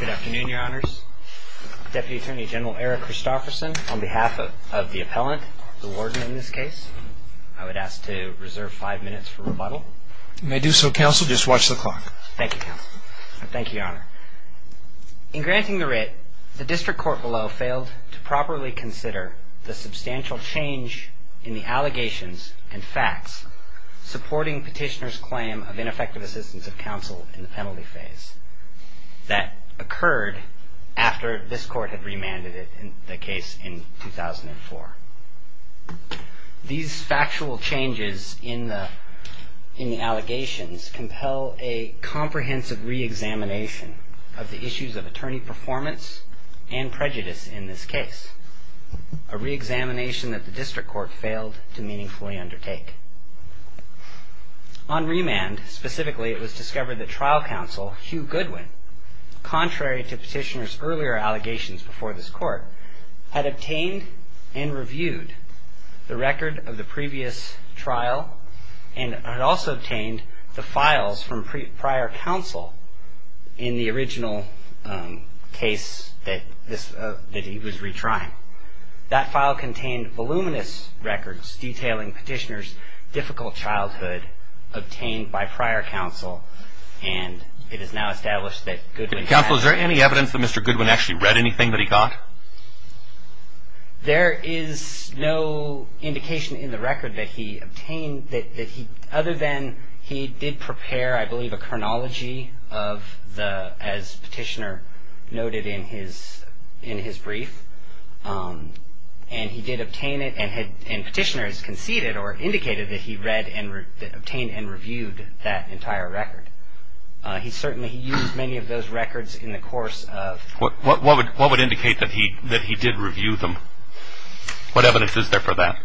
Good afternoon, Your Honors. Deputy Attorney General Eric Christofferson, on behalf of the appellant, the warden in this case, I would ask to reserve five minutes for rebuttal. You may do so, Counsel. Just watch the clock. Thank you, Counsel. Thank you, Your Honor. In granting the writ, the District Court below failed to properly consider the substantial change in the allegations and facts supporting Petitioner's claim of ineffective assistance of counsel in the penalty phase that occurred after this Court had remanded the case in 2004. These factual changes in the allegations compel a comprehensive reexamination of the allegation that the District Court failed to meaningfully undertake. On remand, specifically, it was discovered that trial counsel, Hugh Goodwin, contrary to Petitioner's earlier allegations before this Court, had obtained and reviewed the record of the previous trial and had also obtained the files from prior counsel in the original case that he was retrying. That file contained voluminous records detailing Petitioner's difficult childhood obtained by prior counsel, and it is now established that Goodwin had... Counsel, is there any evidence that Mr. Goodwin actually read anything that he got? There is no indication in the record that he obtained that he, other than he did prepare, I believe, a chronology of the, as Petitioner noted in his brief, and he did obtain it and Petitioner has conceded or indicated that he read and obtained and reviewed that entire record. He certainly used many of those records in the course of... What would indicate that he did review them? What evidence is there for that?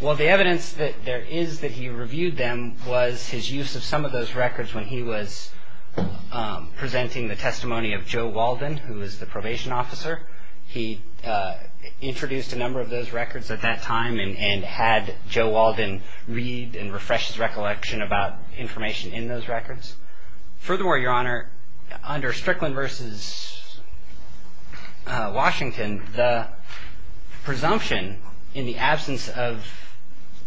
Well, the evidence that there is that he reviewed them was his use of some of those records when he was presenting the testimony of Joe Walden, who was the probation officer. He introduced a number of those records at that time and had Joe Walden read and refresh his recollection about information in those records. Furthermore, Your Honor, under Strickland v. Washington, the presumption in the absence of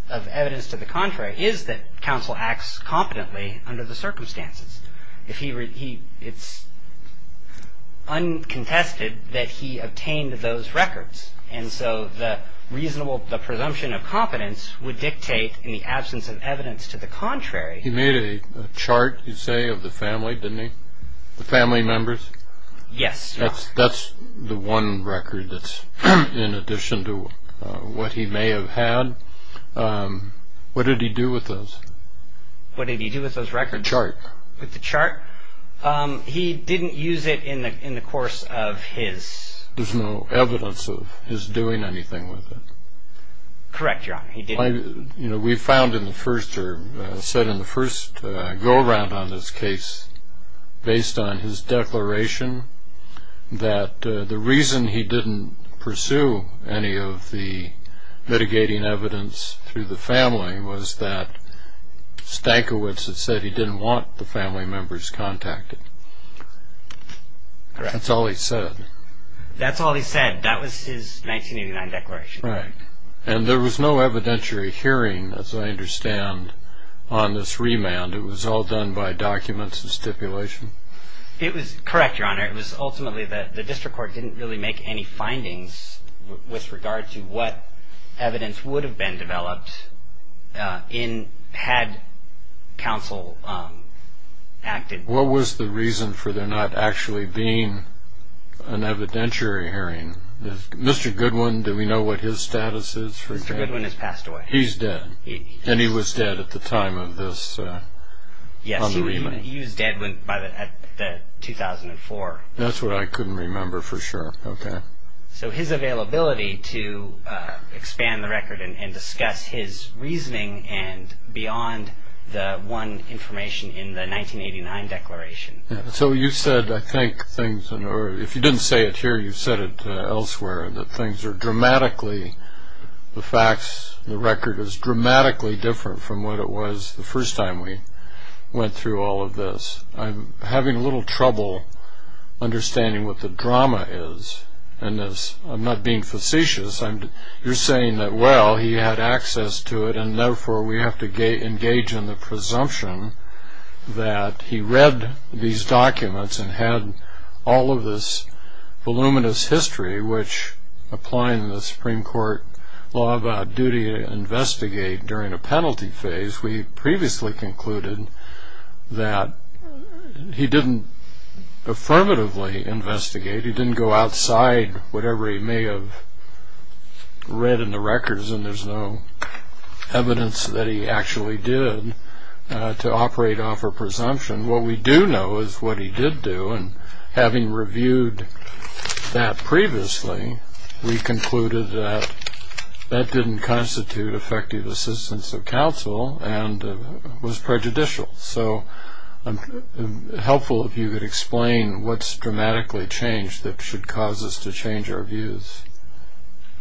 evidence to the contrary is that counsel acts competently under the circumstances. It's uncontested that he obtained those records, and so the reasonable presumption of competence would dictate in the absence of evidence to the contrary... He made a chart, you say, of the family, didn't he? The family members? Yes, Your Honor. That's the one record that's in addition to what he may have had. What did he do with those? What did he do with those records? The chart. With the chart? He didn't use it in the course of his... There's no evidence of his doing anything with it. Correct, Your Honor, he didn't. You know, we found in the first, or said in the first go-around on this case, based on his declaration, that the reason he didn't pursue any of the mitigating evidence through the family was that Stankiewicz had said he didn't want the family members contacted. Correct. That's all he said. That's all he said. That was his 1989 declaration. Right. And there was no evidentiary hearing, as I understand, on this remand. It was all done by documents and stipulation? It was ultimately that the district court didn't really make any findings with regard to what evidence would have been developed in, had counsel acted. What was the reason for there not actually being an evidentiary hearing? Mr. Goodwin, do we know what his status is for... Mr. Goodwin has passed away. He's dead. And he was dead at the time of this, on the 24th. That's what I couldn't remember for sure. Okay. So his availability to expand the record and discuss his reasoning and beyond the one information in the 1989 declaration. So you said, I think, things, or if you didn't say it here, you said it elsewhere, that things are dramatically, the facts, the record is dramatically different from what it was the last time. I'm having a little trouble understanding what the drama is in this. I'm not being facetious. You're saying that, well, he had access to it, and therefore we have to engage in the presumption that he read these documents and had all of this voluminous history, which applying the Supreme Court law about duty to investigate during a penalty phase, we didn't affirmatively investigate. He didn't go outside whatever he may have read in the records, and there's no evidence that he actually did to operate off a presumption. What we do know is what he did do, and having reviewed that previously, we concluded that that didn't constitute effective assistance of counsel and was prejudicial. So I'm helpful to note if you could explain what's dramatically changed that should cause us to change our views.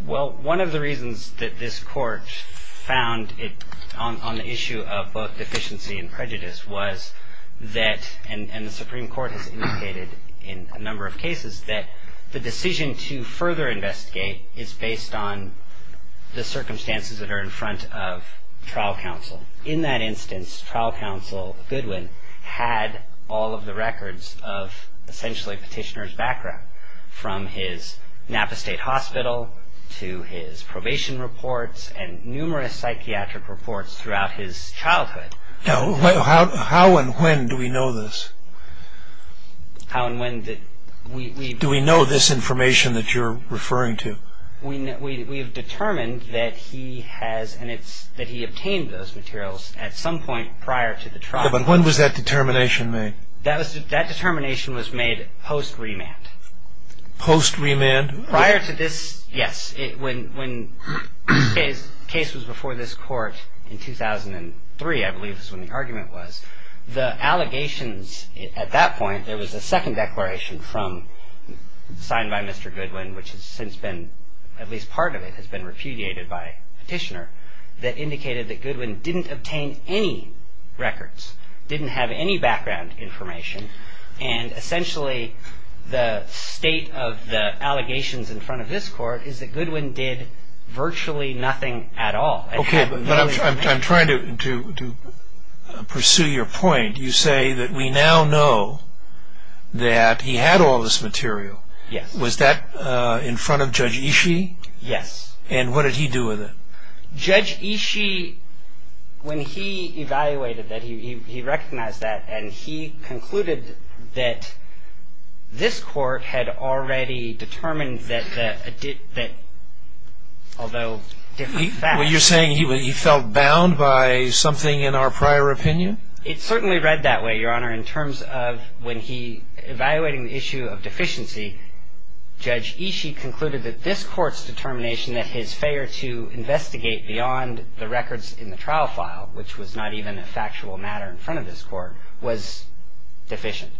Well, one of the reasons that this Court found it on the issue of both deficiency and prejudice was that, and the Supreme Court has indicated in a number of cases, that the decision to further investigate is based on the circumstances that are in front of trial counsel. In that case, the Supreme Court has determined that he had access to records of essentially petitioner's background, from his Napa State Hospital to his probation reports and numerous psychiatric reports throughout his childhood. Now, how and when do we know this? How and when did we... Do we know this information that you're referring to? We have determined that he has, and that he obtained those materials at some point prior to the trial. Yeah, but when was that determination made? That determination was made post-remand. Post-remand? Prior to this, yes. When the case was before this Court in 2003, I believe is when the argument was, the allegations at that point, there was a second declaration signed by Mr. Goodwin, at least part of it has been repudiated by petitioner, that indicated that Goodwin didn't obtain any records, didn't have any background information, and essentially the state of the allegations in front of this Court is that Goodwin did virtually nothing at all. Okay, but I'm trying to pursue your point. You say that we now know that he had all this material. Yes. Was that in front of Judge Ishii? Yes. And what did he do with it? Judge Ishii, when he evaluated that, he recognized that, and he concluded that this Court had already determined that, although... Well, you're saying he felt bound by something in our prior opinion? It certainly read that way, Your Honor, in terms of when he, evaluating the issue of deficiency, Judge Ishii concluded that this Court's determination that his failure to investigate beyond the records in the trial file, which was not even a factual matter in front of this Court, was deficient.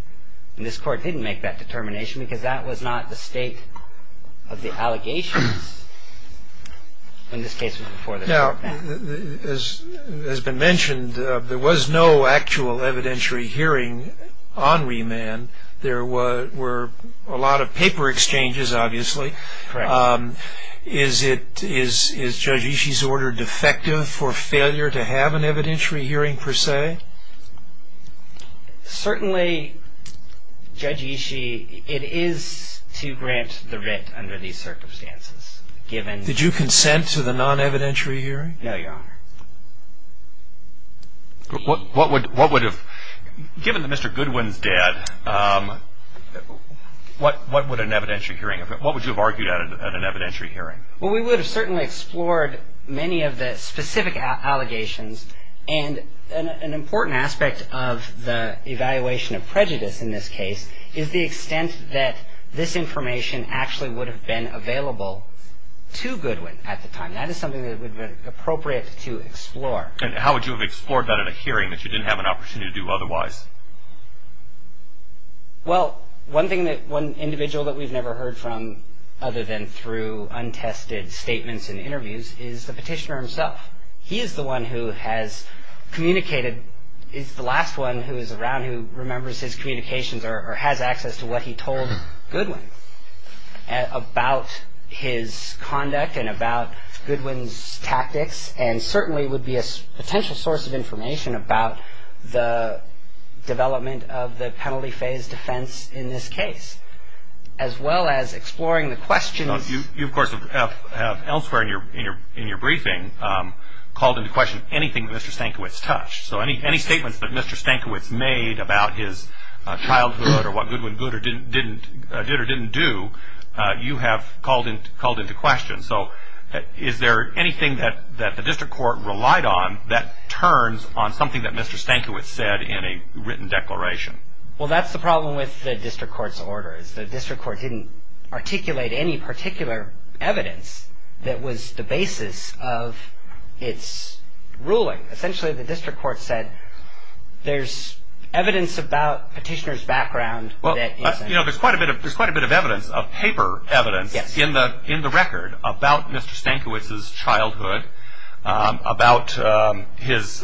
And this Court didn't make that determination because that was not the state of the allegations when this case was before this Court. Now, as has been mentioned, there was no actual evidentiary hearing on remand. There were a lot of paper exchanges, obviously. Correct. Is Judge Ishii's order defective for failure to have an evidentiary hearing, per se? Certainly, Judge Ishii, it is to grant the writ under these circumstances, given... Did you consent to the non-evidentiary hearing? No, Your Honor. What would have... Given that Mr. Goodwin's dead, what would an evidentiary hearing... What would you have argued at an evidentiary hearing? Well, we would have certainly explored many of the specific allegations, and an important aspect of the evaluation of prejudice in this case is the extent that this information actually would have been available to Goodwin at the time. That is something that would have been appropriate to explore. And how would you have explored that at a hearing that you didn't have an opportunity to do otherwise? Well, one individual that we've never heard from, other than through untested statements and interviews, is the petitioner himself. He is the one who has communicated... He's the last one who is around who remembers his communications or has access to what he told Goodwin about his conduct and about Goodwin's tactics, and certainly would be a potential source of information about the development of the penalty phase defense in this case, as well as exploring the questions... You, of course, have elsewhere in your briefing called into question anything Mr. Stankiewicz touched. So any statements that Mr. Stankiewicz made about his childhood or what Goodwin did or didn't do, you have called into question. So is there anything that the district court relied on that turns on something that Mr. Stankiewicz said in a written declaration? Well, that's the problem with the district court's orders. The district court didn't articulate any particular evidence that was the basis of its ruling. Essentially, the district court said, there's evidence about petitioner's background... Well, there's quite a bit of evidence, of paper evidence, in the record about Mr. Stankiewicz's childhood, about his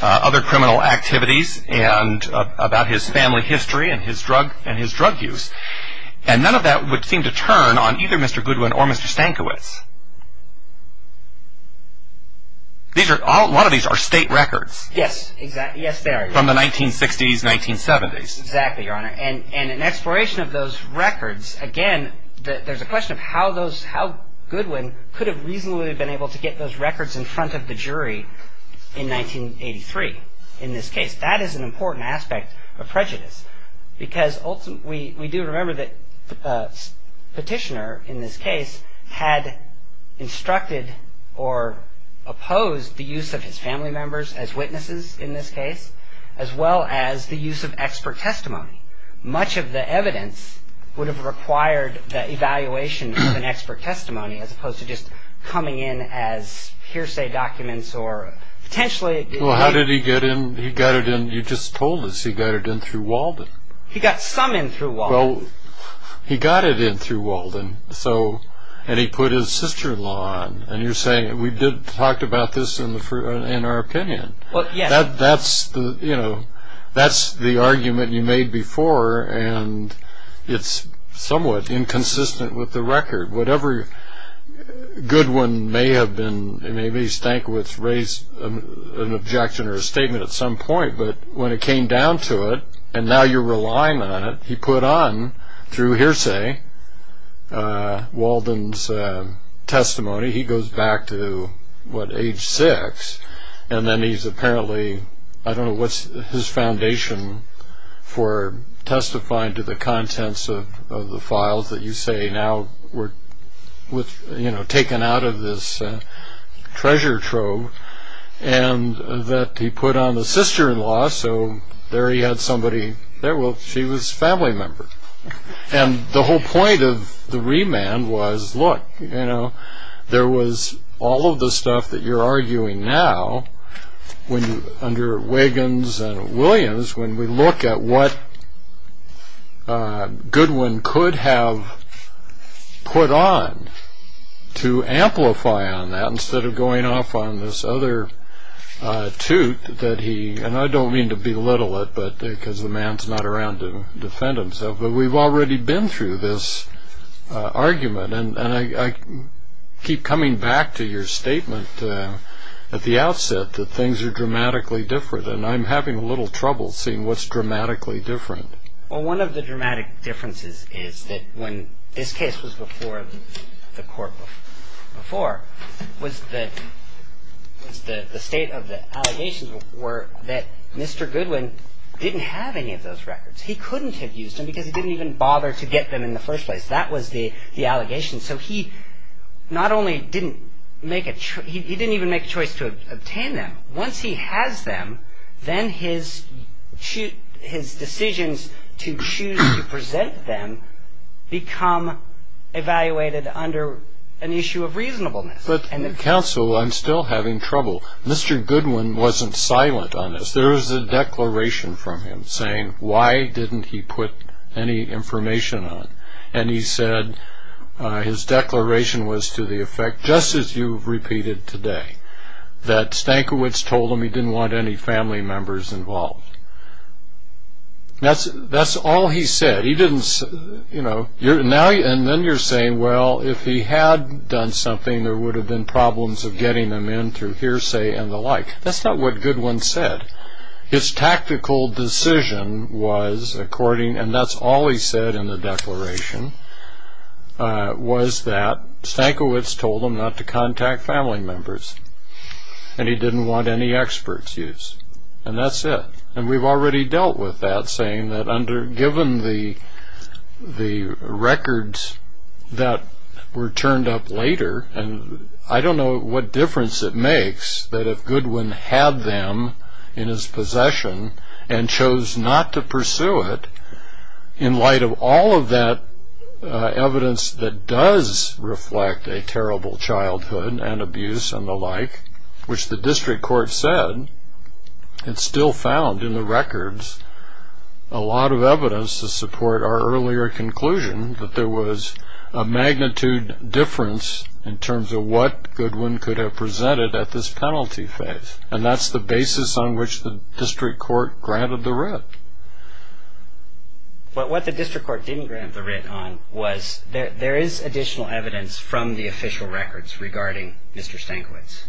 other criminal activities, and about his family history and his drug use. And none of that would seem to turn on either Mr. Goodwin or Mr. Stankiewicz. A lot of these are state records. Yes, exactly. Yes, they are. From the 1960s, 1970s. Exactly, Your Honor. And in exploration of those records, again, there's a question of how Goodwin could have reasonably been able to get those records in front of the jury in 1983 in this case. That is an important aspect of prejudice. Because ultimately, we do remember that the petitioner in this case had instructed or opposed the use of his family members as witnesses in this case, as well as the use of expert testimony. Much of the evidence would have required the evaluation of an expert testimony, as opposed to just coming in as hearsay documents or potentially... Well, how did he get in? He got it in, you just told us, he got it in through Walden. He got some in through Walden. Well, he got it in through Walden, and he put his sister-in-law on. And you're saying, we did talk about this in our opinion. Well, yes. That's the argument you made before, and it's somewhat inconsistent with the record. Whatever Goodwin may have been, maybe Stankiewicz raised an objection or a statement at some point, but when it came down to it, and now you're relying on it, he put on, through hearsay, Walden's testimony. He goes back to, what, age six, and then he's apparently, I don't know what's his foundation for testifying to the contents of the files that you say now were taken out of this treasure trove, and that he put on the sister-in-law, so there he had somebody, she was a family member. And the whole point of the remand was, look, there was all of the stuff that you're arguing now, under Wiggins and Williams, when we look at what Goodwin could have put on to amplify on that, instead of going off on this other toot that he, and I don't mean to belittle it, because the man's not around to defend himself, but we've already been through this argument, and I keep coming back to your statement at the outset that things are dramatically different, and I'm having a little trouble seeing what's dramatically different. Well, one of the dramatic differences is that when this case was before the court before, was that the state of the allegations were that Mr. Goodwin didn't have any of those records. He couldn't have used them, because he didn't even bother to get them in the first place. That was the allegation. So he not only didn't make a choice, he didn't then his decisions to choose to present them become evaluated under an issue of reasonableness. But counsel, I'm still having trouble. Mr. Goodwin wasn't silent on this. There was a declaration from him saying, why didn't he put any information on? And he said his declaration was to the effect, just as you've repeated today, that Stankiewicz told him he didn't want any family members involved. That's all he said. And then you're saying, well, if he had done something, there would have been problems of getting them in through hearsay and the like. That's not what Goodwin said. His tactical decision was according, and that's all he said in the declaration, was that Stankiewicz told him not to contact family members, and he didn't want any experts used. And that's it. And we've already dealt with that, saying that given the records that were turned up later, and I don't know what difference it makes that if Goodwin had them in his possession and chose not to pursue it, in light of all of that evidence that does reflect a terrible childhood and abuse and the like, which the district court said, it's still found in the records a lot of evidence to support our earlier conclusion that there was a magnitude difference in terms of what was presented at this penalty phase. And that's the basis on which the district court granted the writ. But what the district court didn't grant the writ on was there is additional evidence from the official records regarding Mr. Stankiewicz,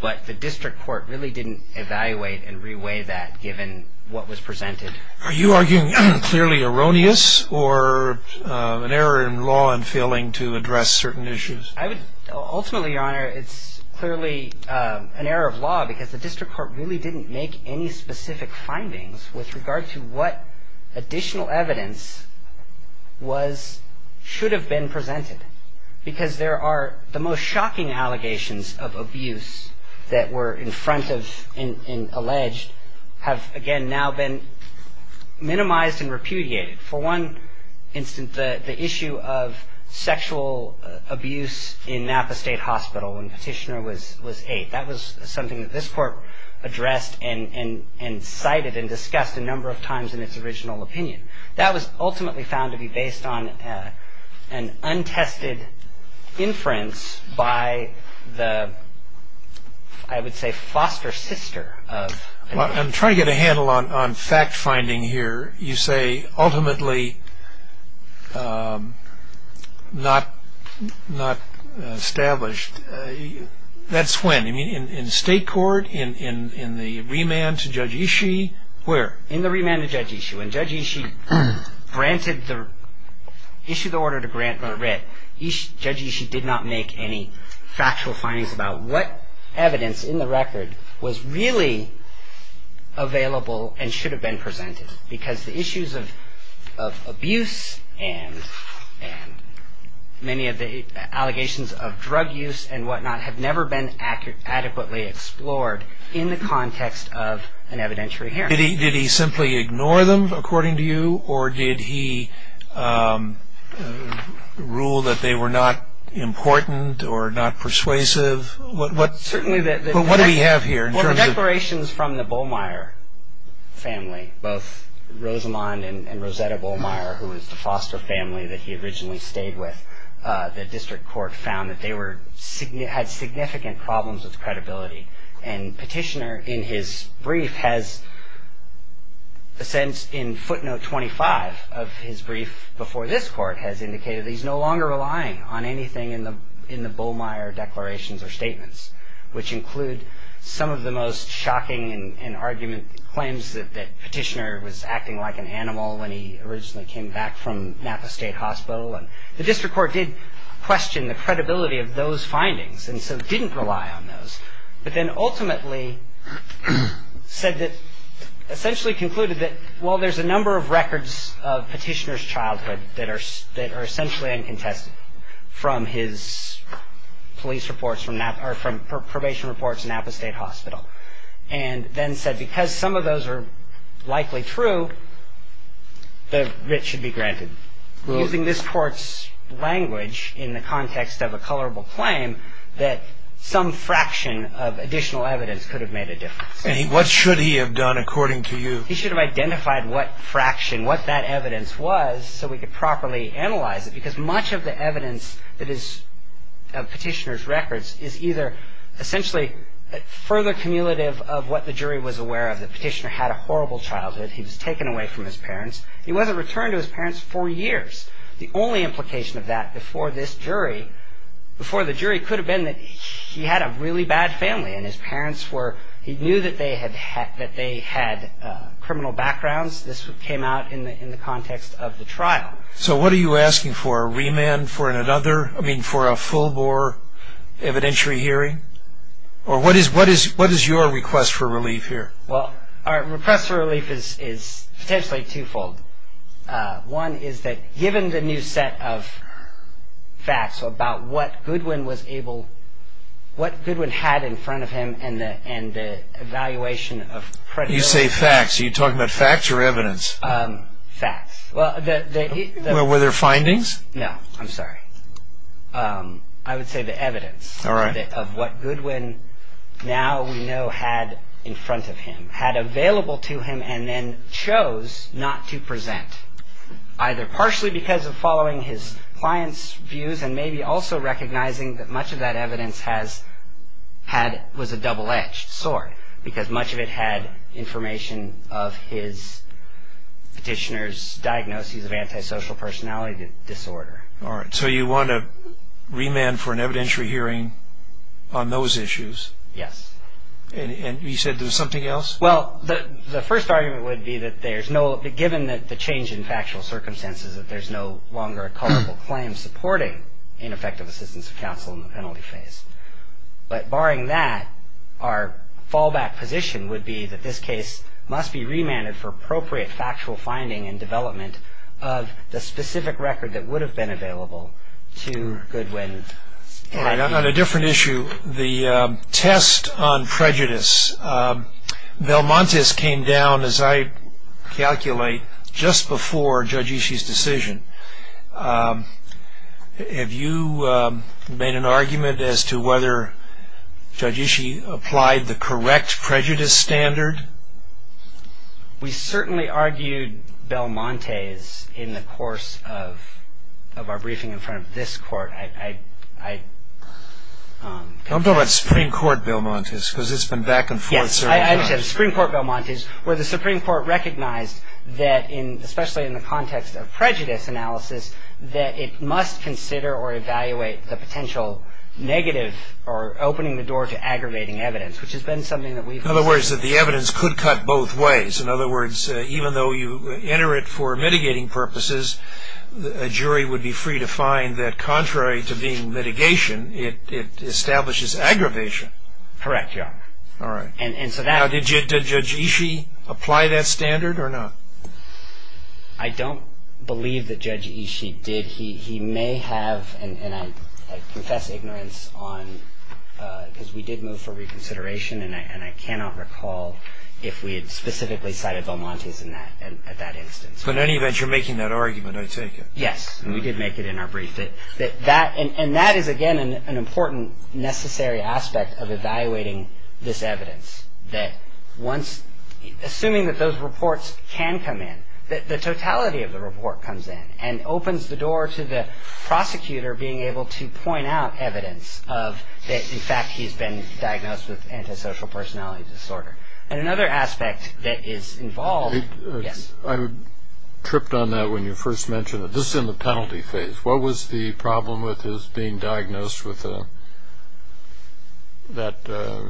but the district court really didn't evaluate and re-weigh that given what was presented. Are you arguing clearly erroneous or an error in law in failing to address certain issues? I would ultimately, Your Honor, it's clearly an error of law because the district court really didn't make any specific findings with regard to what additional evidence was should have been presented. Because there are the most shocking allegations of abuse that were in front of and alleged have, again, now been minimized and repudiated. For one instance, the issue of sexual abuse in Napa State Hospital when Petitioner was eight, that was something that this court addressed and cited and discussed a number of times in its original opinion. That was ultimately found to be based on an untested inference by the, I would say, foster sister of Petitioner. I'm trying to get a handle on fact-finding here. You say ultimately not established. That's when? In state court? In the remand to Judge Ishii? Where? In the remand to Judge Ishii. When Judge Ishii issued the order to grant the writ, Judge Ishii did not make any factual findings about what evidence in the record was really available and should have been presented. Because the issues of abuse and many of the allegations of drug use and whatnot have never been adequately explored in the context of an evidentiary hearing. Did he simply ignore them, according to you, or did he rule that they were not important or not persuasive? What do we have here? Well, the declarations from the Bollmeier family, both Rosamond and Rosetta Bollmeier, who is the foster family that he originally stayed with, the district court found that they had significant problems with credibility. And Petitioner in his brief has, in footnote 25 of his brief before this court, has indicated that he's no longer relying on anything in the Bollmeier declarations or statements, which include some of the most shocking and argument claims that Petitioner was acting like an animal when he originally came back from Napa State Hospital. And the district court did question the credibility of those findings and so didn't rely on those, but then ultimately said that, essentially concluded that, well, there's a number of records of Petitioner's childhood that are essentially uncontested from his police reports from Napa, or from probation reports in Napa State Hospital. And then said, because some of those are likely true, the writ should be granted. Using this court's language in the context of a colorable claim, that some fraction of additional evidence could have made a difference. And what should he have done, according to you? He should have identified what fraction, what that evidence was, so we could properly analyze it, because much of the evidence that is of Petitioner's records is either essentially further cumulative of what the jury was aware of, that Petitioner had a horrible childhood. He was taken away from his parents. He wasn't returned to his parents for years. The only implication of that before this jury, before the jury, could have been that he had a really bad family and his parents were, he knew that they had criminal backgrounds. This came out in the context of the trial. So what are you asking for? A remand for another, I mean, for a full-bore evidentiary hearing? Or what is your request for relief here? Well, our request for relief is potentially two-fold. One is that given the new set of facts about what Goodwin was able, what Goodwin had in front of him, and the evaluation of credibility. You say facts. Are you talking about facts or evidence? Facts. Well, were there findings? No, I'm sorry. I would say the evidence of what Goodwin now we know had in front of him, had available to him and then chose not to present, either partially because of following his client's views and maybe also recognizing that much of that evidence was a double-edged sword because much of it had information of his petitioner's diagnoses of antisocial personality disorder. All right. So you want a remand for an evidentiary hearing on those issues? Yes. And you said there was something else? Well, the first argument would be that there's no, given the change in factual circumstances, that there's no longer a culpable claim supporting ineffective assistance of counsel in the penalty But barring that, our fallback position would be that this case must be remanded for appropriate factual finding and development of the specific record that would have been available to Goodwin. All right. On a different issue, the test on prejudice. Belmontis came down, as I calculate, just before Judge Ishii's decision. Have you made an argument as to whether Judge Ishii applied the correct prejudice standard? We certainly argued Belmontis in the course of our briefing in front of this court. I'm talking about Supreme Court Belmontis because it's been back and forth several times. Yes, I understand. Supreme Court Belmontis, where the Supreme Court recognized that, especially in the context of prejudice analysis, that it must consider or evaluate the potential negative or opening the door to aggravating evidence, which has been something that we've considered. In other words, that the evidence could cut both ways. In other words, even though you enter it for mitigating purposes, a jury would be free to find that contrary to being mitigation, it establishes aggravation. Correct, Your Honor. All right. Now, did Judge Ishii apply that standard or not? I don't believe that Judge Ishii did. He may have, and I confess ignorance on, because we did move for reconsideration, and I cannot recall if we had specifically cited Belmontis at that instance. But in any event, you're making that argument, I take it. Yes, and we did make it in our brief. And that is, again, an important necessary aspect of evaluating this evidence. Assuming that those reports can come in, the totality of the report comes in and opens the door to the prosecutor being able to point out evidence of, in fact, he's been diagnosed with antisocial personality disorder. And another aspect that is involved, yes. I tripped on that when you first mentioned it. This is in the penalty phase. What was the problem with his being diagnosed with that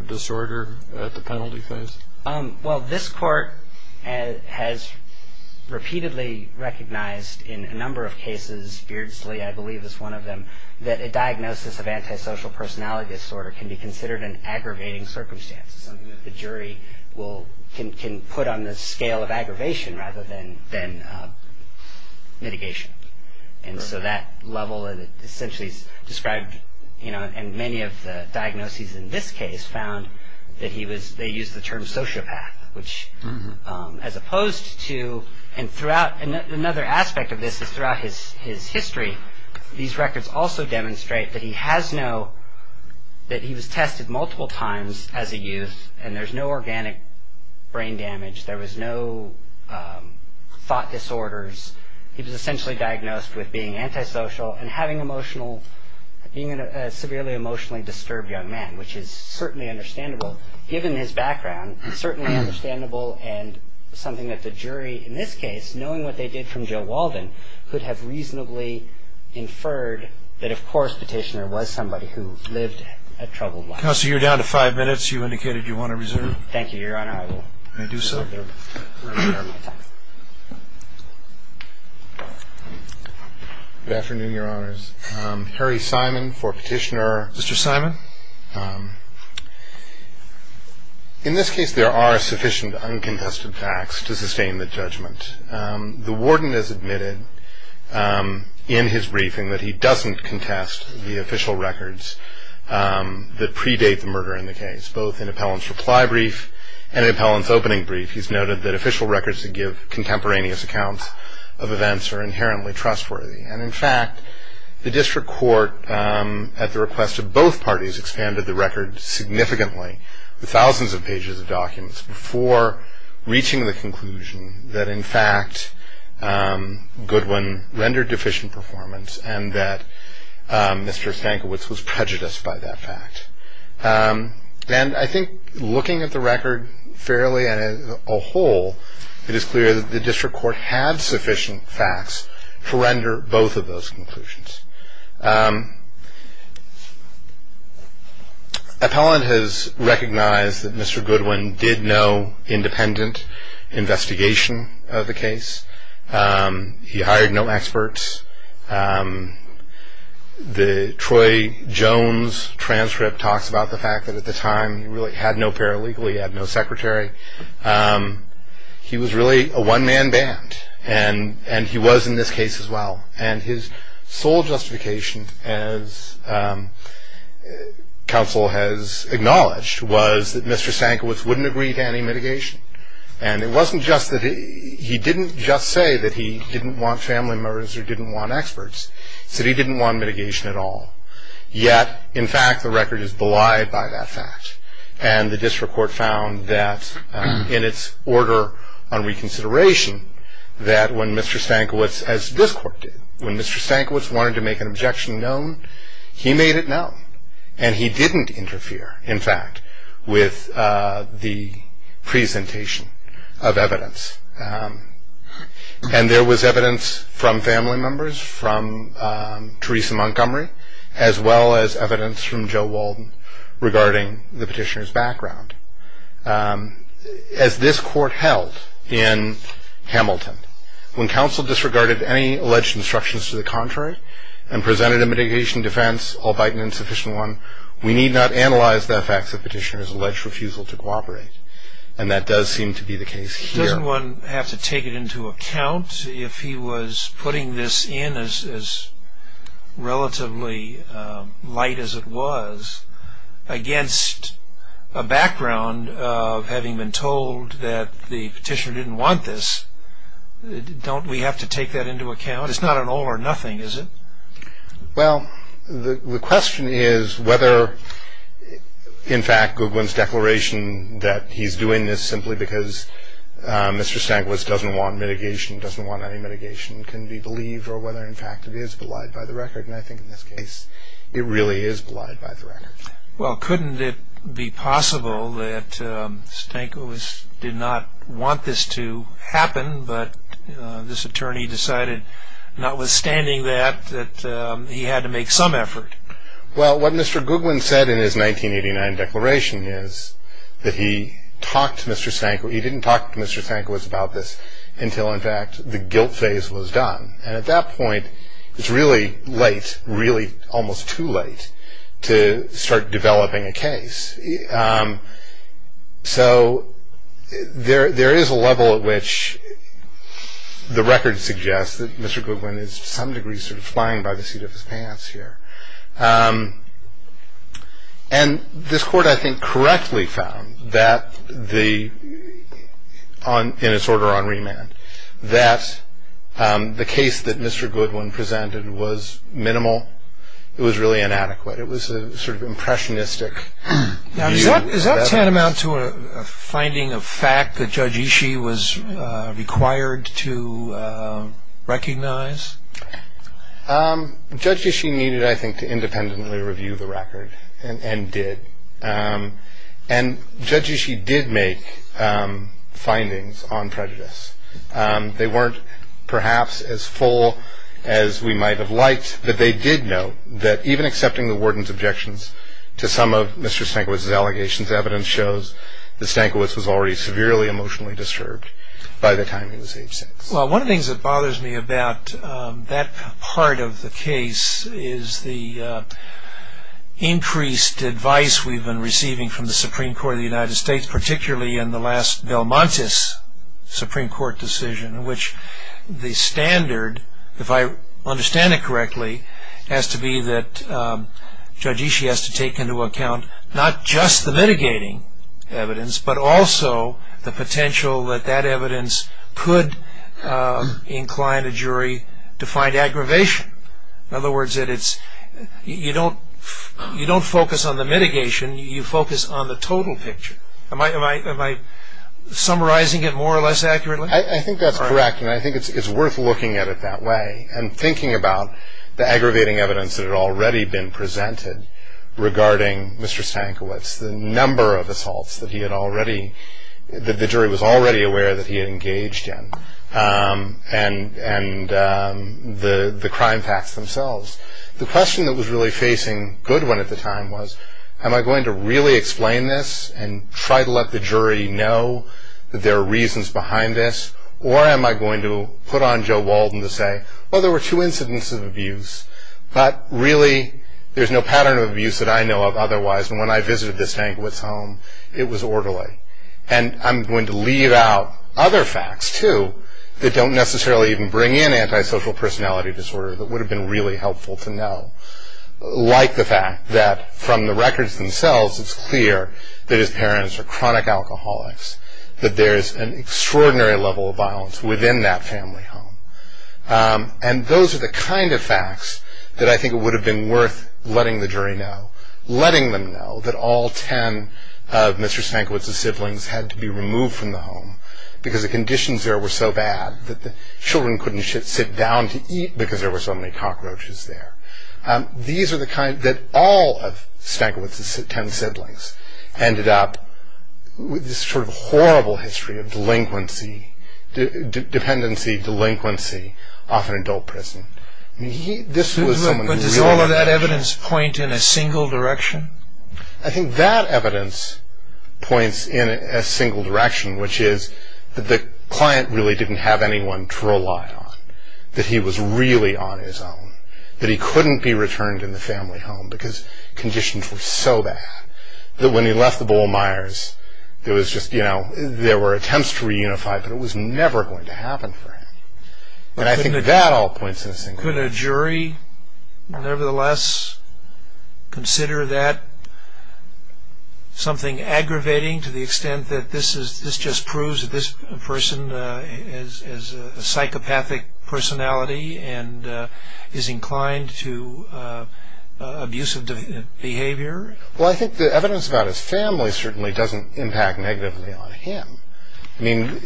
disorder at the penalty phase? Well, this court has repeatedly recognized in a number of cases, Beardsley, I believe, is one of them, that a diagnosis of antisocial personality disorder can be considered an aggravating circumstance, something that the jury can put on the scale of aggravation rather than mitigation. And so that level essentially is described, and many of the diagnoses in this case found that they used the term sociopath, which as opposed to, and another aspect of this is throughout his history, these records also demonstrate that he has no, that he was tested multiple times as a youth and there's no organic brain damage. There was no thought disorders. He was essentially diagnosed with being antisocial and having emotional, being a severely emotionally disturbed young man, which is certainly understandable given his background. It's certainly understandable and something that the jury in this case, knowing what they did from Joe Walden, could have reasonably inferred that of course Petitioner was somebody who lived a troubled life. Counsel, you're down to five minutes. You indicated you want to reserve. Thank you, Your Honor. I will. May I do so? Good afternoon, Your Honors. Harry Simon for Petitioner. Mr. Simon? Thank you, Your Honor. In this case, there are sufficient uncontested facts to sustain the judgment. The warden has admitted in his briefing that he doesn't contest the official records that predate the murder in the case, both in appellant's reply brief and in appellant's opening brief. He's noted that official records that give contemporaneous accounts of events are inherently trustworthy, and in fact the district court, at the request of both parties, expanded the record significantly, the thousands of pages of documents, before reaching the conclusion that in fact Goodwin rendered deficient performance and that Mr. Stankiewicz was prejudiced by that fact. And I think looking at the record fairly as a whole, it is clear that the district court had sufficient facts to render both of those conclusions. Appellant has recognized that Mr. Goodwin did no independent investigation of the case. He hired no experts. The Troy Jones transcript talks about the fact that at the time, he really had no paralegal, he had no secretary. He was really a one-man band, and he was in this case as well. And his sole justification, as counsel has acknowledged, was that Mr. Stankiewicz wouldn't agree to any mitigation. And it wasn't just that he didn't just say that he didn't want family members or didn't want experts. He said he didn't want mitigation at all. Yet, in fact, the record is belied by that fact. And the district court found that in its order on reconsideration, that when Mr. Stankiewicz, as this court did, when Mr. Stankiewicz wanted to make an objection known, he made it known. And he didn't interfere, in fact, with the presentation of evidence. And there was evidence from family members, from Theresa Montgomery, as well as evidence from Joe Walden regarding the petitioner's background. As this court held in Hamilton, when counsel disregarded any alleged instructions to the contrary and presented a mitigation defense, albeit an insufficient one, we need not analyze the facts of petitioner's alleged refusal to cooperate. And that does seem to be the case here. Doesn't one have to take it into account if he was putting this in as relatively light as it was against a background of having been told that the petitioner didn't want this? Don't we have to take that into account? It's not an all or nothing, is it? Well, the question is whether, in fact, Goodwin's declaration that he's doing this simply because Mr. Stankiewicz doesn't want mitigation, doesn't want any mitigation, can be believed, or whether, in fact, it is belied by the record. And I think, in this case, it really is belied by the record. Well, couldn't it be possible that Stankiewicz did not want this to happen, but this attorney decided, notwithstanding that, that he had to make some effort? Well, what Mr. Goodwin said in his 1989 declaration is that he talked to Mr. Stankiewicz. He didn't talk to Mr. Stankiewicz about this until, in fact, the guilt phase was done. And at that point, it's really late, really almost too late, to start developing a case. So there is a level at which the record suggests that Mr. Goodwin is, to some degree, sort of flying by the seat of his pants here. And this court, I think, correctly found that, in its order on remand, that the case that Mr. Goodwin presented was minimal, it was really inadequate. It was sort of impressionistic. Now, does that tantamount to a finding of fact that Judge Ishii was required to recognize? Judge Ishii needed, I think, to independently review the record, and did. And Judge Ishii did make findings on prejudice. They weren't, perhaps, as full as we might have liked, but they did note that even accepting the warden's objections to some of Mr. Stankiewicz's allegations, evidence shows that Stankiewicz was already severely emotionally disturbed by the time he was age six. Well, one of the things that bothers me about that part of the case is the increased advice we've been receiving from the Supreme Court of the United States, particularly in the last Belmontes Supreme Court decision, in which the standard, if I understand it correctly, has to be that Judge Ishii has to take into account not just the mitigating evidence, but also the potential that that evidence could incline a jury to find aggravation. In other words, you don't focus on the mitigation, you focus on the total picture. Am I summarizing it more or less accurately? I think that's correct, and I think it's worth looking at it that way and thinking about the aggravating evidence that had already been presented regarding Mr. Stankiewicz, the number of assaults that the jury was already aware that he had engaged in, and the crime facts themselves. The question that was really facing Goodwin at the time was, am I going to really explain this and try to let the jury know that there are reasons behind this, or am I going to put on Joe Walden to say, well, there were two incidents of abuse, but really there's no pattern of abuse that I know of otherwise, and when I visited Mr. Stankiewicz's home, it was orderly. And I'm going to leave out other facts, too, that don't necessarily even bring in antisocial personality disorder that would have been really helpful to know, like the fact that from the records themselves, it's clear that his parents are chronic alcoholics, that there's an extraordinary level of violence within that family home. And those are the kind of facts that I think would have been worth letting the jury know, letting them know that all ten of Mr. Stankiewicz's siblings had to be removed from the home because the conditions there were so bad that the children couldn't sit down to eat because there were so many cockroaches there. These are the kind that all of Stankiewicz's ten siblings ended up with this sort of horrible history of delinquency, dependency, delinquency off an adult prison. This was someone who really... But does all of that evidence point in a single direction? I think that evidence points in a single direction, which is that the client really didn't have anyone to rely on, that he was really on his own, that he couldn't be returned in the family home because conditions were so bad, that when he left the Bowlemeyers, there were attempts to reunify, but it was never going to happen for him. And I think that all points in a single direction. Could a jury nevertheless consider that something aggravating to the extent that this just proves that this person has a psychopathic personality and is inclined to abusive behavior? Well, I think the evidence about his family certainly doesn't impact negatively on him. I mean,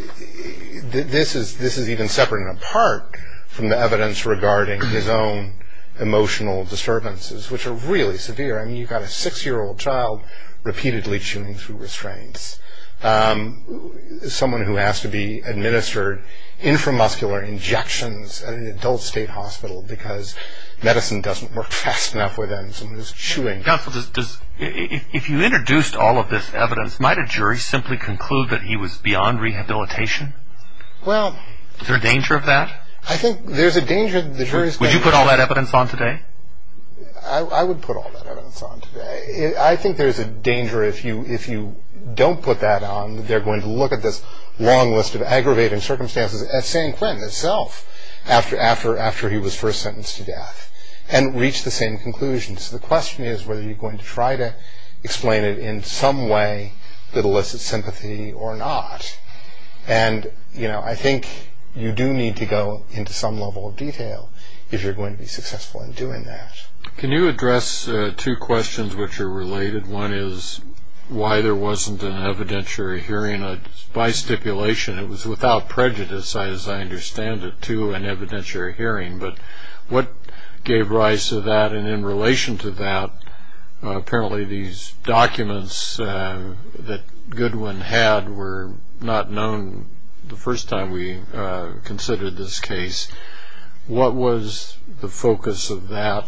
this is even separate and apart from the evidence regarding his own emotional disturbances, which are really severe. I mean, you've got a six-year-old child repeatedly chewing through restraints. Someone who has to be administered inframuscular injections at an adult state hospital because medicine doesn't work fast enough for them. Someone who's chewing... Counsel, if you introduced all of this evidence, might a jury simply conclude that he was beyond rehabilitation? Well... Is there a danger of that? I think there's a danger... Would you put all that evidence on today? I would put all that evidence on today. I think there's a danger if you don't put that on, that they're going to look at this long list of aggravating circumstances as Sanquin himself after he was first sentenced to death and reach the same conclusion. So the question is whether you're going to try to explain it in some way that elicits sympathy or not. And I think you do need to go into some level of detail if you're going to be successful in doing that. Can you address two questions which are related? One is why there wasn't an evidentiary hearing by stipulation? It was without prejudice, as I understand it, to an evidentiary hearing. But what gave rise to that? And in relation to that, apparently these documents that Goodwin had were not known the first time we considered this case. What was the focus of that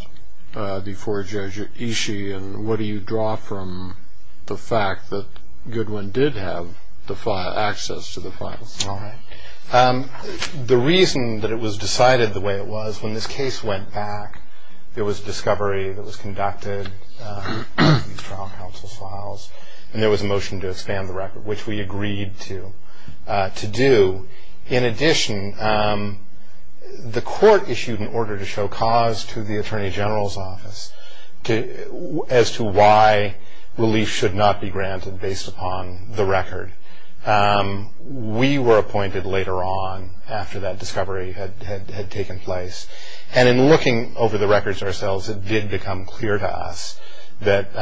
before Judge Ishii? And what do you draw from the fact that Goodwin did have access to the files? All right. The reason that it was decided the way it was, when this case went back, there was a discovery that was conducted, trial counsel files, and there was a motion to expand the record, which we agreed to do. In addition, the court issued an order to show cause to the attorney general's office as to why relief should not be granted based upon the record. We were appointed later on after that discovery had taken place. And in looking over the records ourselves, it did become clear to us that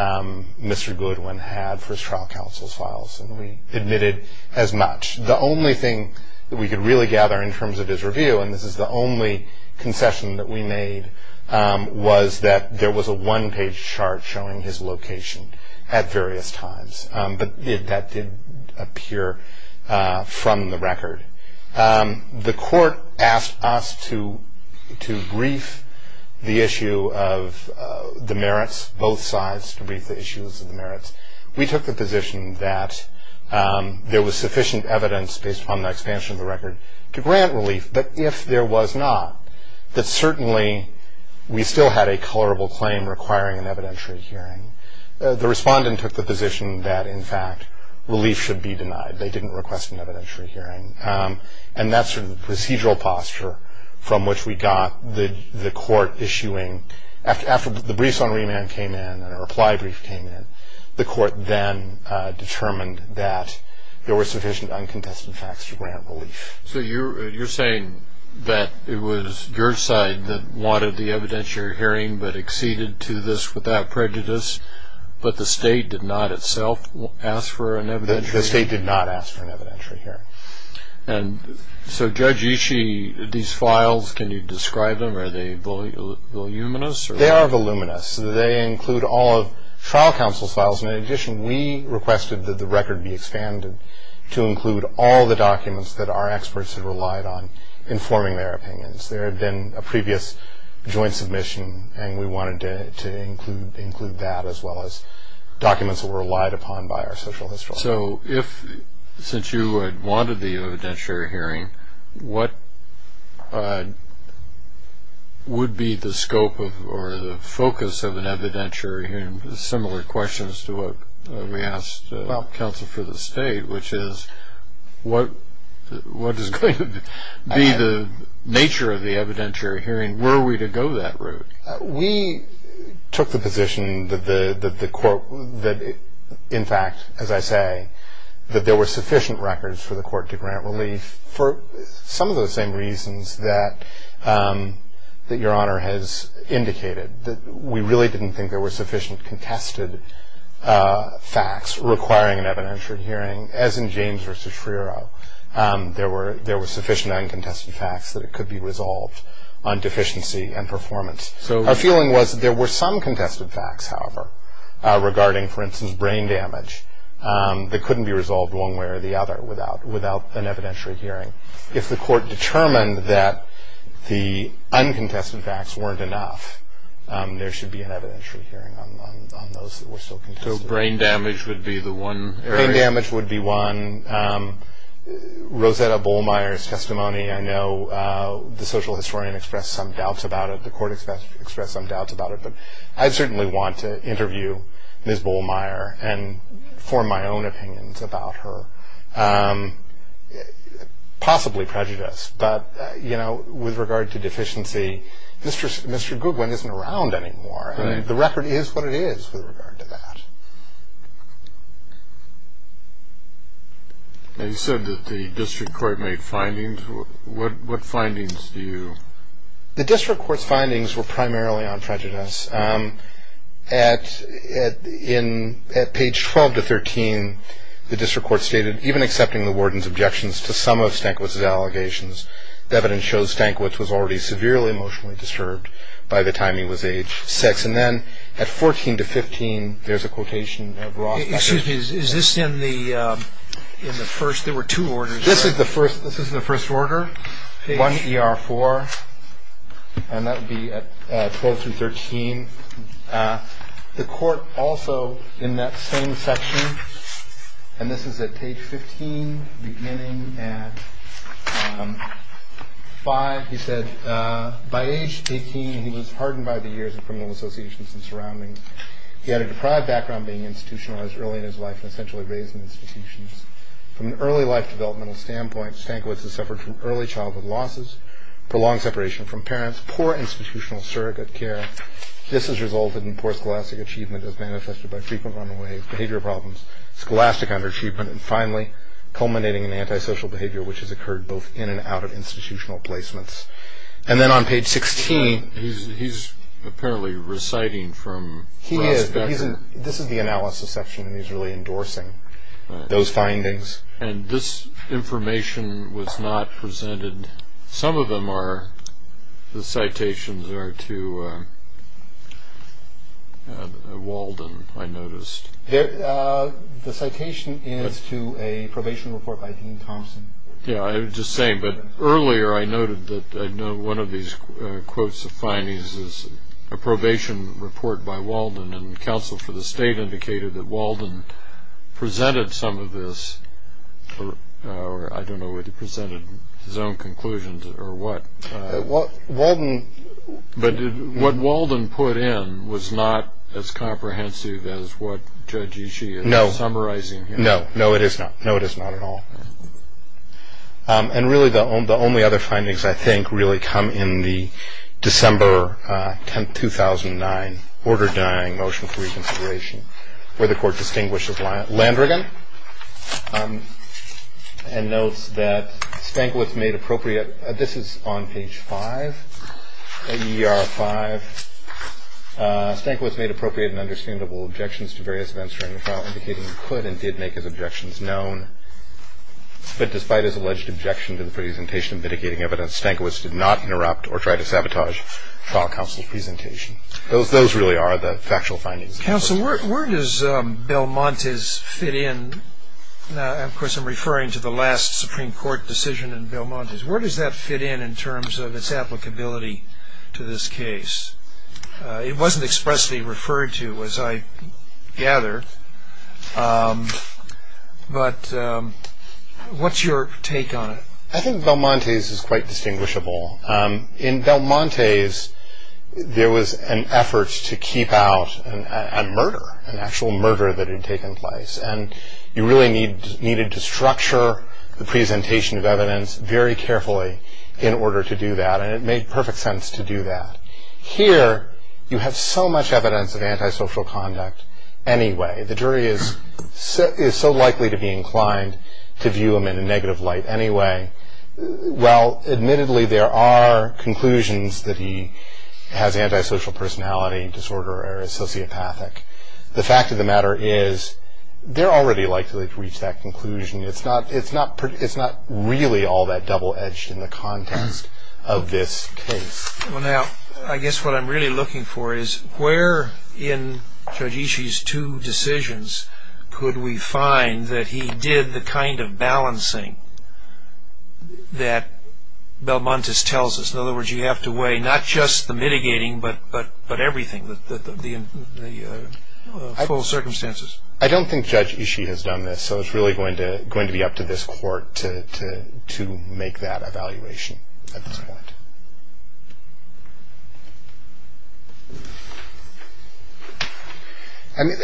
Mr. Goodwin had first trial counsel's files, and we admitted as much. The only thing that we could really gather in terms of his review, and this is the only concession that we made, was that there was a one-page chart showing his location at various times. But that did appear from the record. The court asked us to brief the issue of the merits, both sides, to brief the issues of the merits. We took the position that there was sufficient evidence, based upon the expansion of the record, to grant relief. But if there was not, that certainly we still had a colorable claim requiring an evidentiary hearing. The respondent took the position that, in fact, relief should be denied. They didn't request an evidentiary hearing. And that sort of procedural posture from which we got the court issuing, after the briefs on remand came in and a reply brief came in, the court then determined that there were sufficient uncontested facts to grant relief. So you're saying that it was your side that wanted the evidentiary hearing but acceded to this without prejudice, but the state did not itself ask for an evidentiary hearing? The state did not ask for an evidentiary hearing. And so, Judge Ishii, these files, can you describe them? Are they voluminous? They are voluminous. They include all of trial counsel's files. In addition, we requested that the record be expanded to include all the documents that our experts had relied on informing their opinions. There had been a previous joint submission, and we wanted to include that as well as documents that were relied upon by our social historians. So if, since you had wanted the evidentiary hearing, what would be the scope or the focus of an evidentiary hearing? It's a similar question as to what we asked counsel for the state, which is what is going to be the nature of the evidentiary hearing? Where are we to go that route? We took the position that the court, in fact, as I say, that there were sufficient records for the court to grant relief for some of the same reasons that Your Honor has indicated. We really didn't think there were sufficient contested facts requiring an evidentiary hearing, as in James v. Friero. There were sufficient uncontested facts that it could be resolved on deficiency and performance. Our feeling was that there were some contested facts, however, regarding, for instance, brain damage, that couldn't be resolved one way or the other without an evidentiary hearing. If the court determined that the uncontested facts weren't enough, there should be an evidentiary hearing on those that were still contested. So brain damage would be the one area? Brain damage would be one. Rosetta Bullmeier's testimony, I know the social historian expressed some doubts about it. The court expressed some doubts about it. But I certainly want to interview Ms. Bullmeier and form my own opinions about her, possibly prejudiced. But, you know, with regard to deficiency, Mr. Goodwin isn't around anymore. The record is what it is with regard to that. You said that the district court made findings. What findings do you? The district court's findings were primarily on prejudice. At page 12 to 13, the district court stated, even accepting the warden's objections to some of Stankiewicz's allegations, the evidence shows Stankiewicz was already severely emotionally disturbed by the time he was age six. And then at 14 to 15, there's a quotation of Rosetta. Excuse me. Is this in the first? There were two orders. This is the first. This is the first order. One ER4. And that would be at 12 through 13. The court also in that same section, and this is at page 15, beginning at five, he said, by age 18, he was hardened by the years of criminal associations and surroundings. He had a deprived background, being institutionalized early in his life, and essentially raised in institutions. From an early life developmental standpoint, Stankiewicz has suffered from early childhood losses, prolonged separation from parents, poor institutional surrogate care. This has resulted in poor scholastic achievement as manifested by frequent runaways, behavior problems, scholastic underachievement, and finally culminating in antisocial behavior, which has occurred both in and out of institutional placements. And then on page 16. He's apparently reciting from Rosetta. He is. This is the analysis section, and he's really endorsing those findings. And this information was not presented. The citations are to Walden, I noticed. The citation is to a probation report by Dean Thompson. Yeah, I was just saying, but earlier I noted that one of these quotes of findings is a probation report by Walden, and counsel for the state indicated that Walden presented some of this, or I don't know whether he presented his own conclusions or what. Walden. But what Walden put in was not as comprehensive as what Judge Ishii is summarizing here. No. No, it is not. No, it is not at all. And really the only other findings, I think, really come in the December 10, 2009 order denying motion for reconsideration, where the court distinguishes Landrigan and notes that Stankiewicz made appropriate. This is on page 5, AER 5. Stankiewicz made appropriate and understandable objections to various events during the trial, indicating he could and did make his objections known. But despite his alleged objection to the presentation and mitigating evidence, Stankiewicz did not interrupt or try to sabotage trial counsel's presentation. Those really are the factual findings. Counsel, where does Belmontes fit in? Of course, I'm referring to the last Supreme Court decision in Belmontes. Where does that fit in in terms of its applicability to this case? It wasn't expressly referred to, as I gather. But what's your take on it? I think Belmontes is quite distinguishable. In Belmontes, there was an effort to keep out a murder, an actual murder that had taken place. You really needed to structure the presentation of evidence very carefully in order to do that. It made perfect sense to do that. Here, you have so much evidence of antisocial conduct anyway. The jury is so likely to be inclined to view him in a negative light anyway. Admittedly, there are conclusions that he has antisocial personality disorder or is sociopathic. The fact of the matter is they're already likely to reach that conclusion. It's not really all that double-edged in the context of this case. Well, now, I guess what I'm really looking for is where in Judge Ishii's two decisions could we find that he did the kind of balancing that Belmontes tells us? In other words, you have to weigh not just the mitigating but everything, the full circumstances. I don't think Judge Ishii has done this, so it's really going to be up to this court to make that evaluation at this point.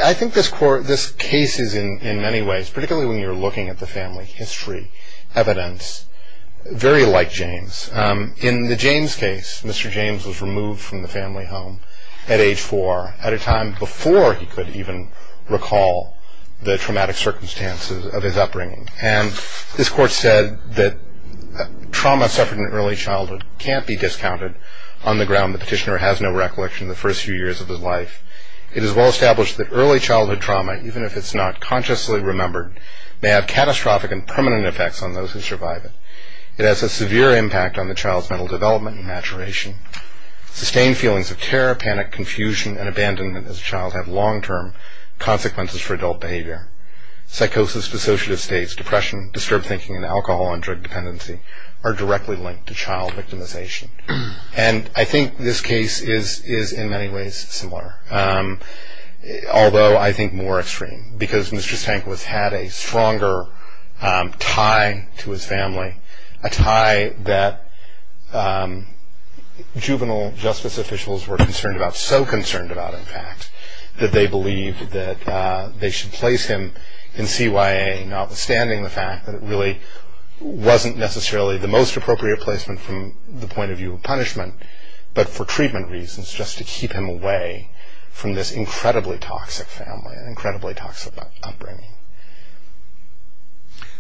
I think this case is in many ways, particularly when you're looking at the family history evidence, very like James. In the James case, Mr. James was removed from the family home at age four at a time before he could even recall the traumatic circumstances of his upbringing. And this court said that trauma suffered in early childhood can't be discounted on the ground the petitioner has no recollection of the first few years of his life. It is well established that early childhood trauma, even if it's not consciously remembered, may have catastrophic and permanent effects on those who survive it. It has a severe impact on the child's mental development and maturation. Sustained feelings of terror, panic, confusion, and abandonment as a child have long-term consequences for adult behavior. Psychosis, dissociative states, depression, disturbed thinking, and alcohol and drug dependency are directly linked to child victimization. And I think this case is in many ways similar, although I think more extreme, because Mr. Stankiewicz had a stronger tie to his family, a tie that juvenile justice officials were concerned about, so concerned about, in fact, that they believed that they should place him in CYA, notwithstanding the fact that it really wasn't necessarily the most appropriate placement from the point of view of punishment, but for treatment reasons, just to keep him away from this incredibly toxic family and incredibly toxic upbringing.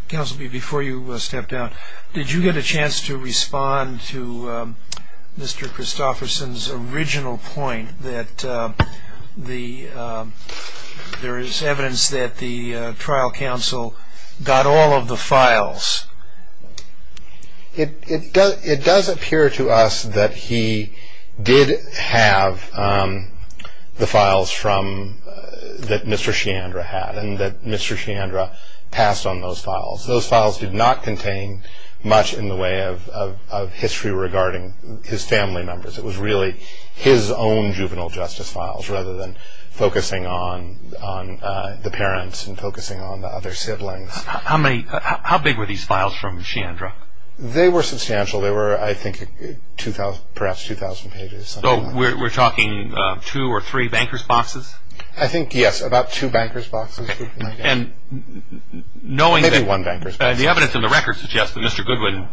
Counsel, before you step down, did you get a chance to respond to Mr. Christofferson's original point that there is evidence that the trial counsel got all of the files? It does appear to us that he did have the files that Mr. Chandra had and that Mr. Chandra passed on those files. Those files did not contain much in the way of history regarding his family members. It was really his own juvenile justice files, rather than focusing on the parents and focusing on the other siblings. How big were these files from Chandra? They were substantial. They were, I think, perhaps 2,000 pages. So we're talking two or three bankers' boxes? I think, yes, about two bankers' boxes. Maybe one bankers' box. The evidence in the records suggests that Mr. Goodwin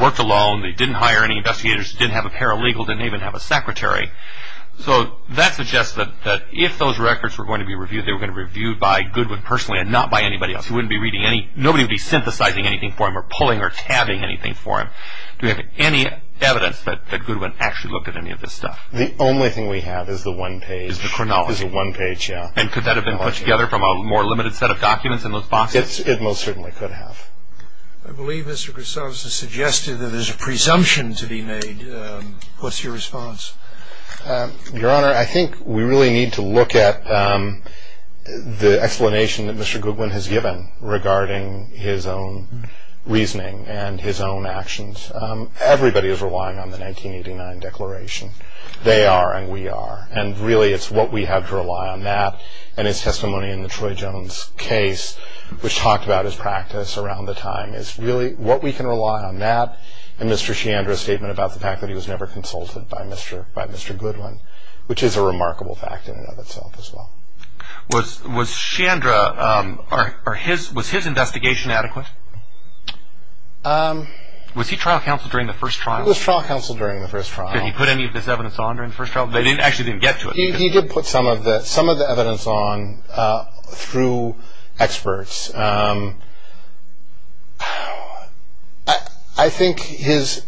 worked alone, that he didn't hire any investigators, didn't have a paralegal, didn't even have a secretary. So that suggests that if those records were going to be reviewed, they were going to be reviewed by Goodwin personally and not by anybody else. Nobody would be synthesizing anything for him or pulling or tabbing anything for him. Do we have any evidence that Goodwin actually looked at any of this stuff? The only thing we have is the one page. Is the chronology. Is the one page, yes. And could that have been put together from a more limited set of documents in those boxes? It most certainly could have. I believe Mr. Grissom has suggested that there's a presumption to be made. What's your response? Your Honor, I think we really need to look at the explanation that Mr. Goodwin has given regarding his own reasoning and his own actions. Everybody is relying on the 1989 declaration. They are and we are. And really it's what we have to rely on that. And his testimony in the Troy Jones case, which talked about his practice around the time, is really what we can rely on that. And Mr. Shandra's statement about the fact that he was never consulted by Mr. Goodwin, which is a remarkable fact in and of itself as well. Was Shandra or his investigation adequate? Was he trial counsel during the first trial? He was trial counsel during the first trial. Did he put any of this evidence on during the first trial? They actually didn't get to it. He did put some of the evidence on through experts. I think his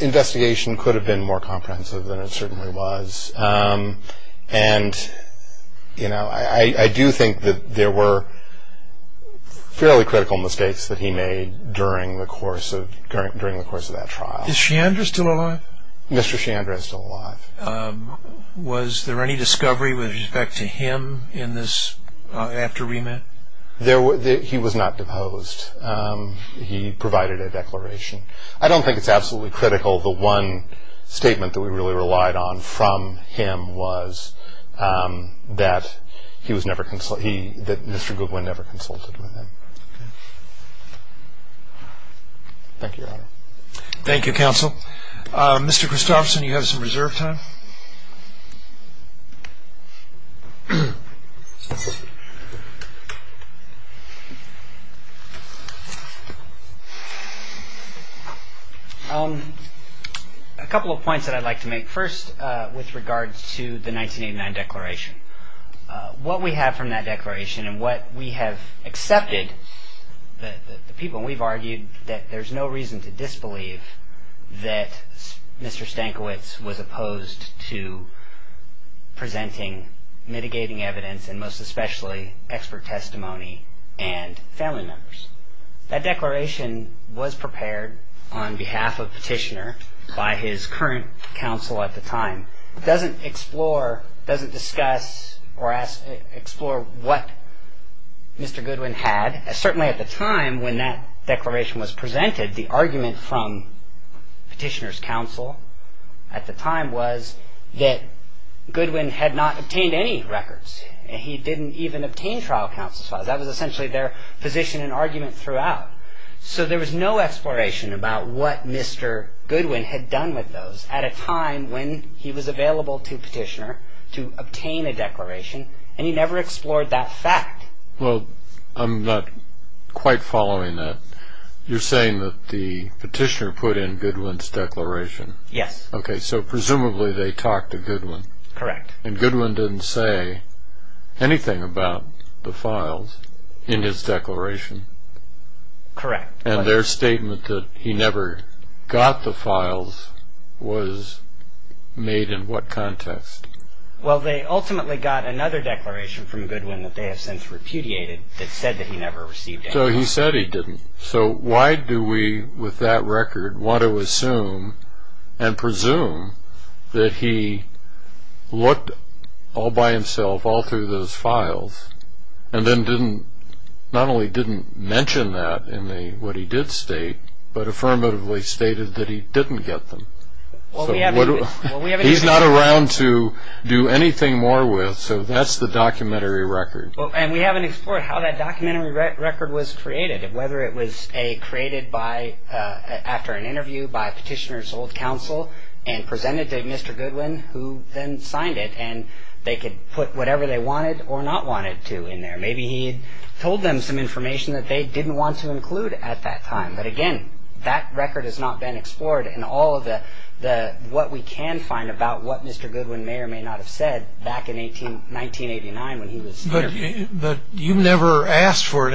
investigation could have been more comprehensive than it certainly was. And I do think that there were fairly critical mistakes that he made during the course of that trial. Is Shandra still alive? Mr. Shandra is still alive. Was there any discovery with respect to him after remand? He was not deposed. He provided a declaration. I don't think it's absolutely critical. The one statement that we really relied on from him was that Mr. Goodwin never consulted with him. Thank you, Your Honor. Thank you, Counsel. Mr. Christopherson, you have some reserve time. A couple of points that I'd like to make. First, with regards to the 1989 declaration. What we have from that declaration and what we have accepted, the people we've argued that there's no reason to disbelieve that Mr. Stankiewicz was opposed to presenting mitigating evidence and most especially expert testimony and family members. That declaration was prepared on behalf of Petitioner by his current counsel at the time. It doesn't explore, doesn't discuss or explore what Mr. Goodwin had. Certainly at the time when that declaration was presented, the argument from Petitioner's counsel at the time was that Goodwin had not obtained any records. He didn't even obtain trial counsel's files. That was essentially their position and argument throughout. So there was no exploration about what Mr. Goodwin had done with those at a time when he was available to Petitioner to obtain a declaration, and he never explored that fact. Well, I'm not quite following that. You're saying that the Petitioner put in Goodwin's declaration? Yes. Okay, so presumably they talked to Goodwin. Correct. And Goodwin didn't say anything about the files in his declaration? Correct. And their statement that he never got the files was made in what context? Well, they ultimately got another declaration from Goodwin that they have since repudiated that said that he never received any. So he said he didn't. So why do we, with that record, want to assume and presume that he looked all by himself all through those files and then not only didn't mention that in what he did state, but affirmatively stated that he didn't get them? He's not around to do anything more with, so that's the documentary record. And we haven't explored how that documentary record was created and whether it was, A, created after an interview by Petitioner's old counsel and presented to Mr. Goodwin, who then signed it, and they could put whatever they wanted or not wanted to in there. Maybe he told them some information that they didn't want to include at that time. But, again, that record has not been explored in all of what we can find about what Mr. Goodwin may or may not have said back in 1989 when he was interviewed. But you've never asked for an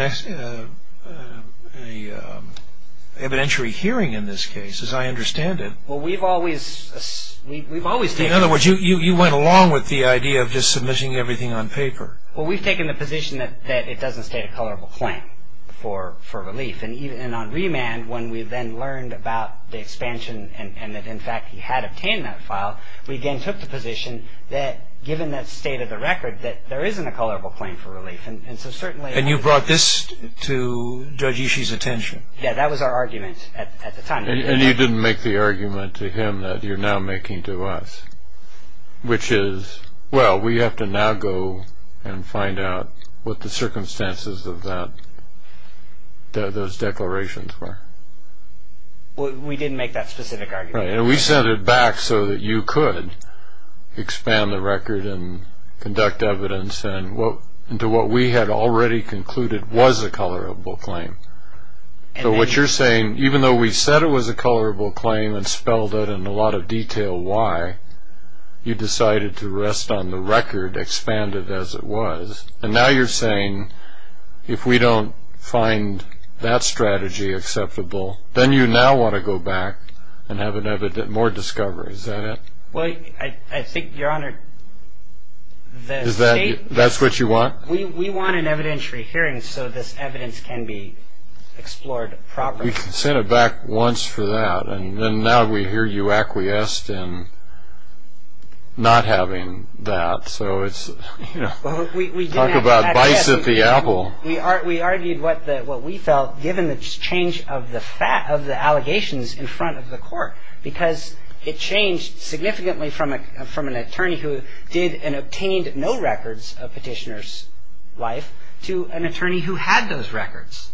evidentiary hearing in this case, as I understand it. Well, we've always taken... In other words, you went along with the idea of just submitting everything on paper. Well, we've taken the position that it doesn't state a colorable claim for relief. And on remand, when we then learned about the expansion and that, in fact, he had obtained that file, we again took the position that, given that state of the record, that there isn't a colorable claim for relief. And so certainly... And you brought this to Judge Ishii's attention. Yeah, that was our argument at the time. And you didn't make the argument to him that you're now making to us, which is, well, we have to now go and find out what the circumstances of those declarations were. We didn't make that specific argument. Right, and we sent it back so that you could expand the record and conduct evidence into what we had already concluded was a colorable claim. So what you're saying, even though we said it was a colorable claim and spelled it in a lot of detail why, you decided to rest on the record, expand it as it was. And now you're saying, if we don't find that strategy acceptable, then you now want to go back and have more discovery. Is that it? Well, I think, Your Honor, the state... That's what you want? We want an evidentiary hearing so this evidence can be explored properly. We sent it back once for that, and now we hear you acquiesced in not having that. So it's, you know, talk about vice at the apple. We argued what we felt given the change of the allegations in front of the court because it changed significantly from an attorney who did and obtained no records of petitioner's life to an attorney who had those records.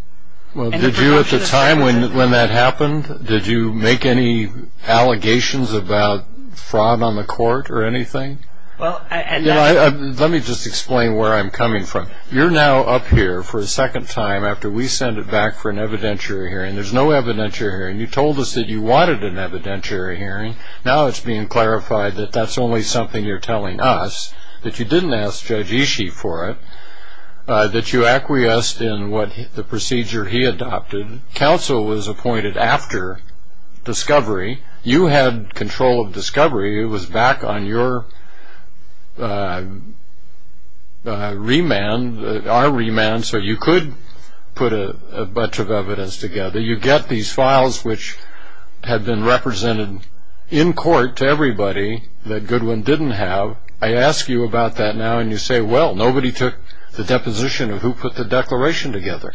Well, did you at the time when that happened, did you make any allegations about fraud on the court or anything? Let me just explain where I'm coming from. You're now up here for a second time after we sent it back for an evidentiary hearing. There's no evidentiary hearing. You told us that you wanted an evidentiary hearing. Now it's being clarified that that's only something you're telling us, that you didn't ask Judge Ishii for it, that you acquiesced in what the procedure he adopted. Counsel was appointed after discovery. You had control of discovery. It was back on your remand, our remand, so you could put a bunch of evidence together. You get these files which had been represented in court to everybody that Goodwin didn't have. I ask you about that now, and you say, well, nobody took the deposition of who put the declaration together.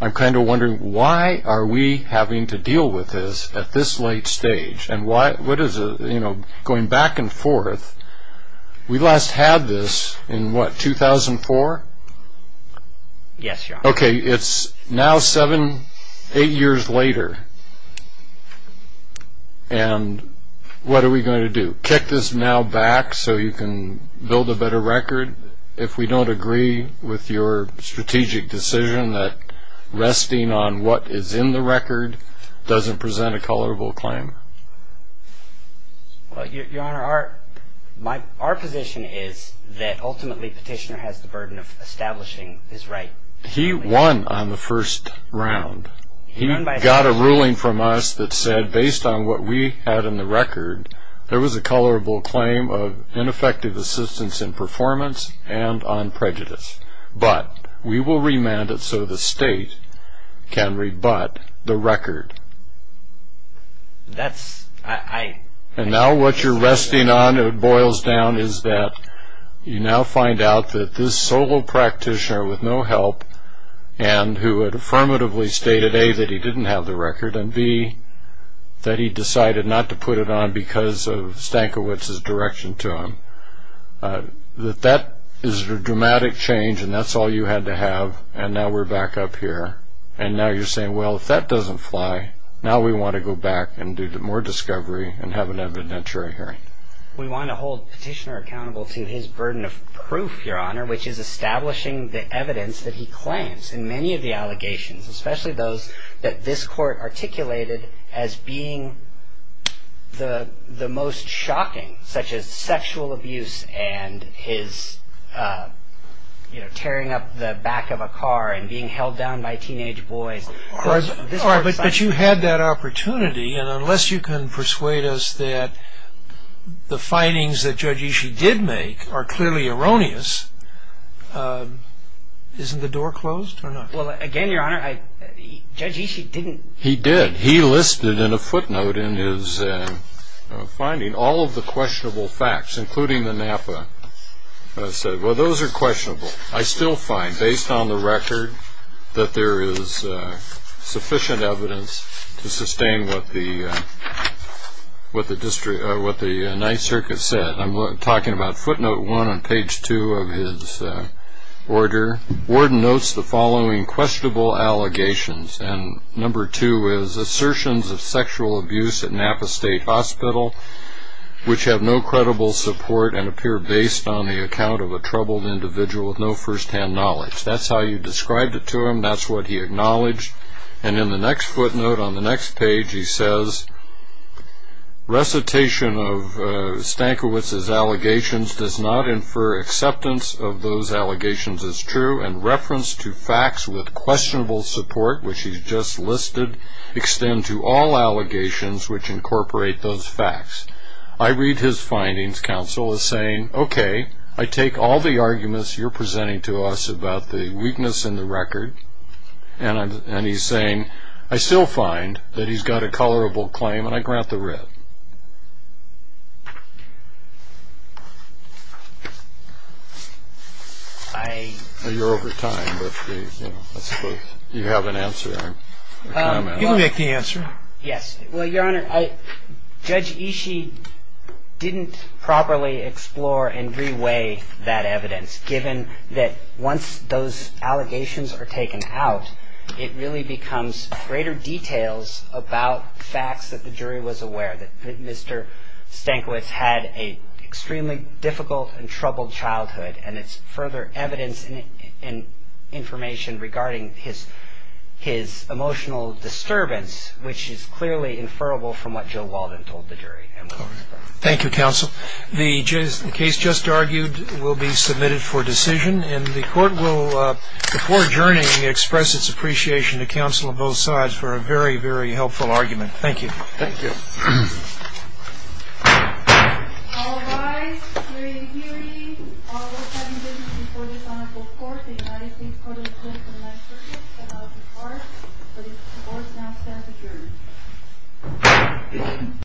I'm kind of wondering why are we having to deal with this at this late stage? Going back and forth, we last had this in what, 2004? Yes, Your Honor. Okay, it's now seven, eight years later, and what are we going to do? Kick this now back so you can build a better record? Your Honor, if we don't agree with your strategic decision that resting on what is in the record doesn't present a colorable claim? Your Honor, our position is that ultimately Petitioner has the burden of establishing his right. He won on the first round. He got a ruling from us that said, based on what we had in the record, there was a colorable claim of ineffective assistance in performance and on prejudice. But we will remand it so the state can rebut the record. And now what you're resting on, it boils down, is that you now find out that this solo practitioner with no help and who had affirmatively stated, A, that he didn't have the record, and, B, that he decided not to put it on because of Stankiewicz's direction to him. That that is a dramatic change, and that's all you had to have, and now we're back up here. And now you're saying, well, if that doesn't fly, now we want to go back and do more discovery and have an evidentiary hearing. We want to hold Petitioner accountable to his burden of proof, Your Honor, which is establishing the evidence that he claims in many of the allegations, especially those that this Court articulated as being the most shocking, such as sexual abuse and his tearing up the back of a car and being held down by teenage boys. All right, but you had that opportunity, and unless you can persuade us that the findings that Judge Ishii did make are clearly erroneous, isn't the door closed or not? Well, again, Your Honor, Judge Ishii didn't. He did. He listed in a footnote in his finding all of the questionable facts, including the Napa. He said, well, those are questionable. I still find, based on the record, that there is sufficient evidence to sustain what the Ninth Circuit said. I'm talking about footnote one on page two of his order. Warden notes the following questionable allegations, and number two is assertions of sexual abuse at Napa State Hospital, which have no credible support and appear based on the account of a troubled individual with no firsthand knowledge. That's how you described it to him. That's what he acknowledged. And in the next footnote on the next page, he says, Recitation of Stankiewicz's allegations does not infer acceptance of those allegations as true, and reference to facts with questionable support, which he's just listed, extend to all allegations which incorporate those facts. I read his findings, counsel, as saying, okay, I take all the arguments you're presenting to us about the weakness in the record, and he's saying, I still find that he's got a colorable claim, and I grant the writ. You're over time, but I suppose you have an answer. You can make the answer. Yes. Well, Your Honor, Judge Ishii didn't properly explore and re-weigh that evidence, given that once those allegations are taken out, it really becomes greater details about facts that the jury was aware, that Mr. Stankiewicz had an extremely difficult and troubled childhood, and it's further evidence and information regarding his emotional disturbance, which is clearly inferrable from what Joe Walden told the jury. Thank you, counsel. The case just argued will be submitted for decision, and the court will, before adjourning, express its appreciation to counsel on both sides for a very, very helpful argument. Thank you. Thank you.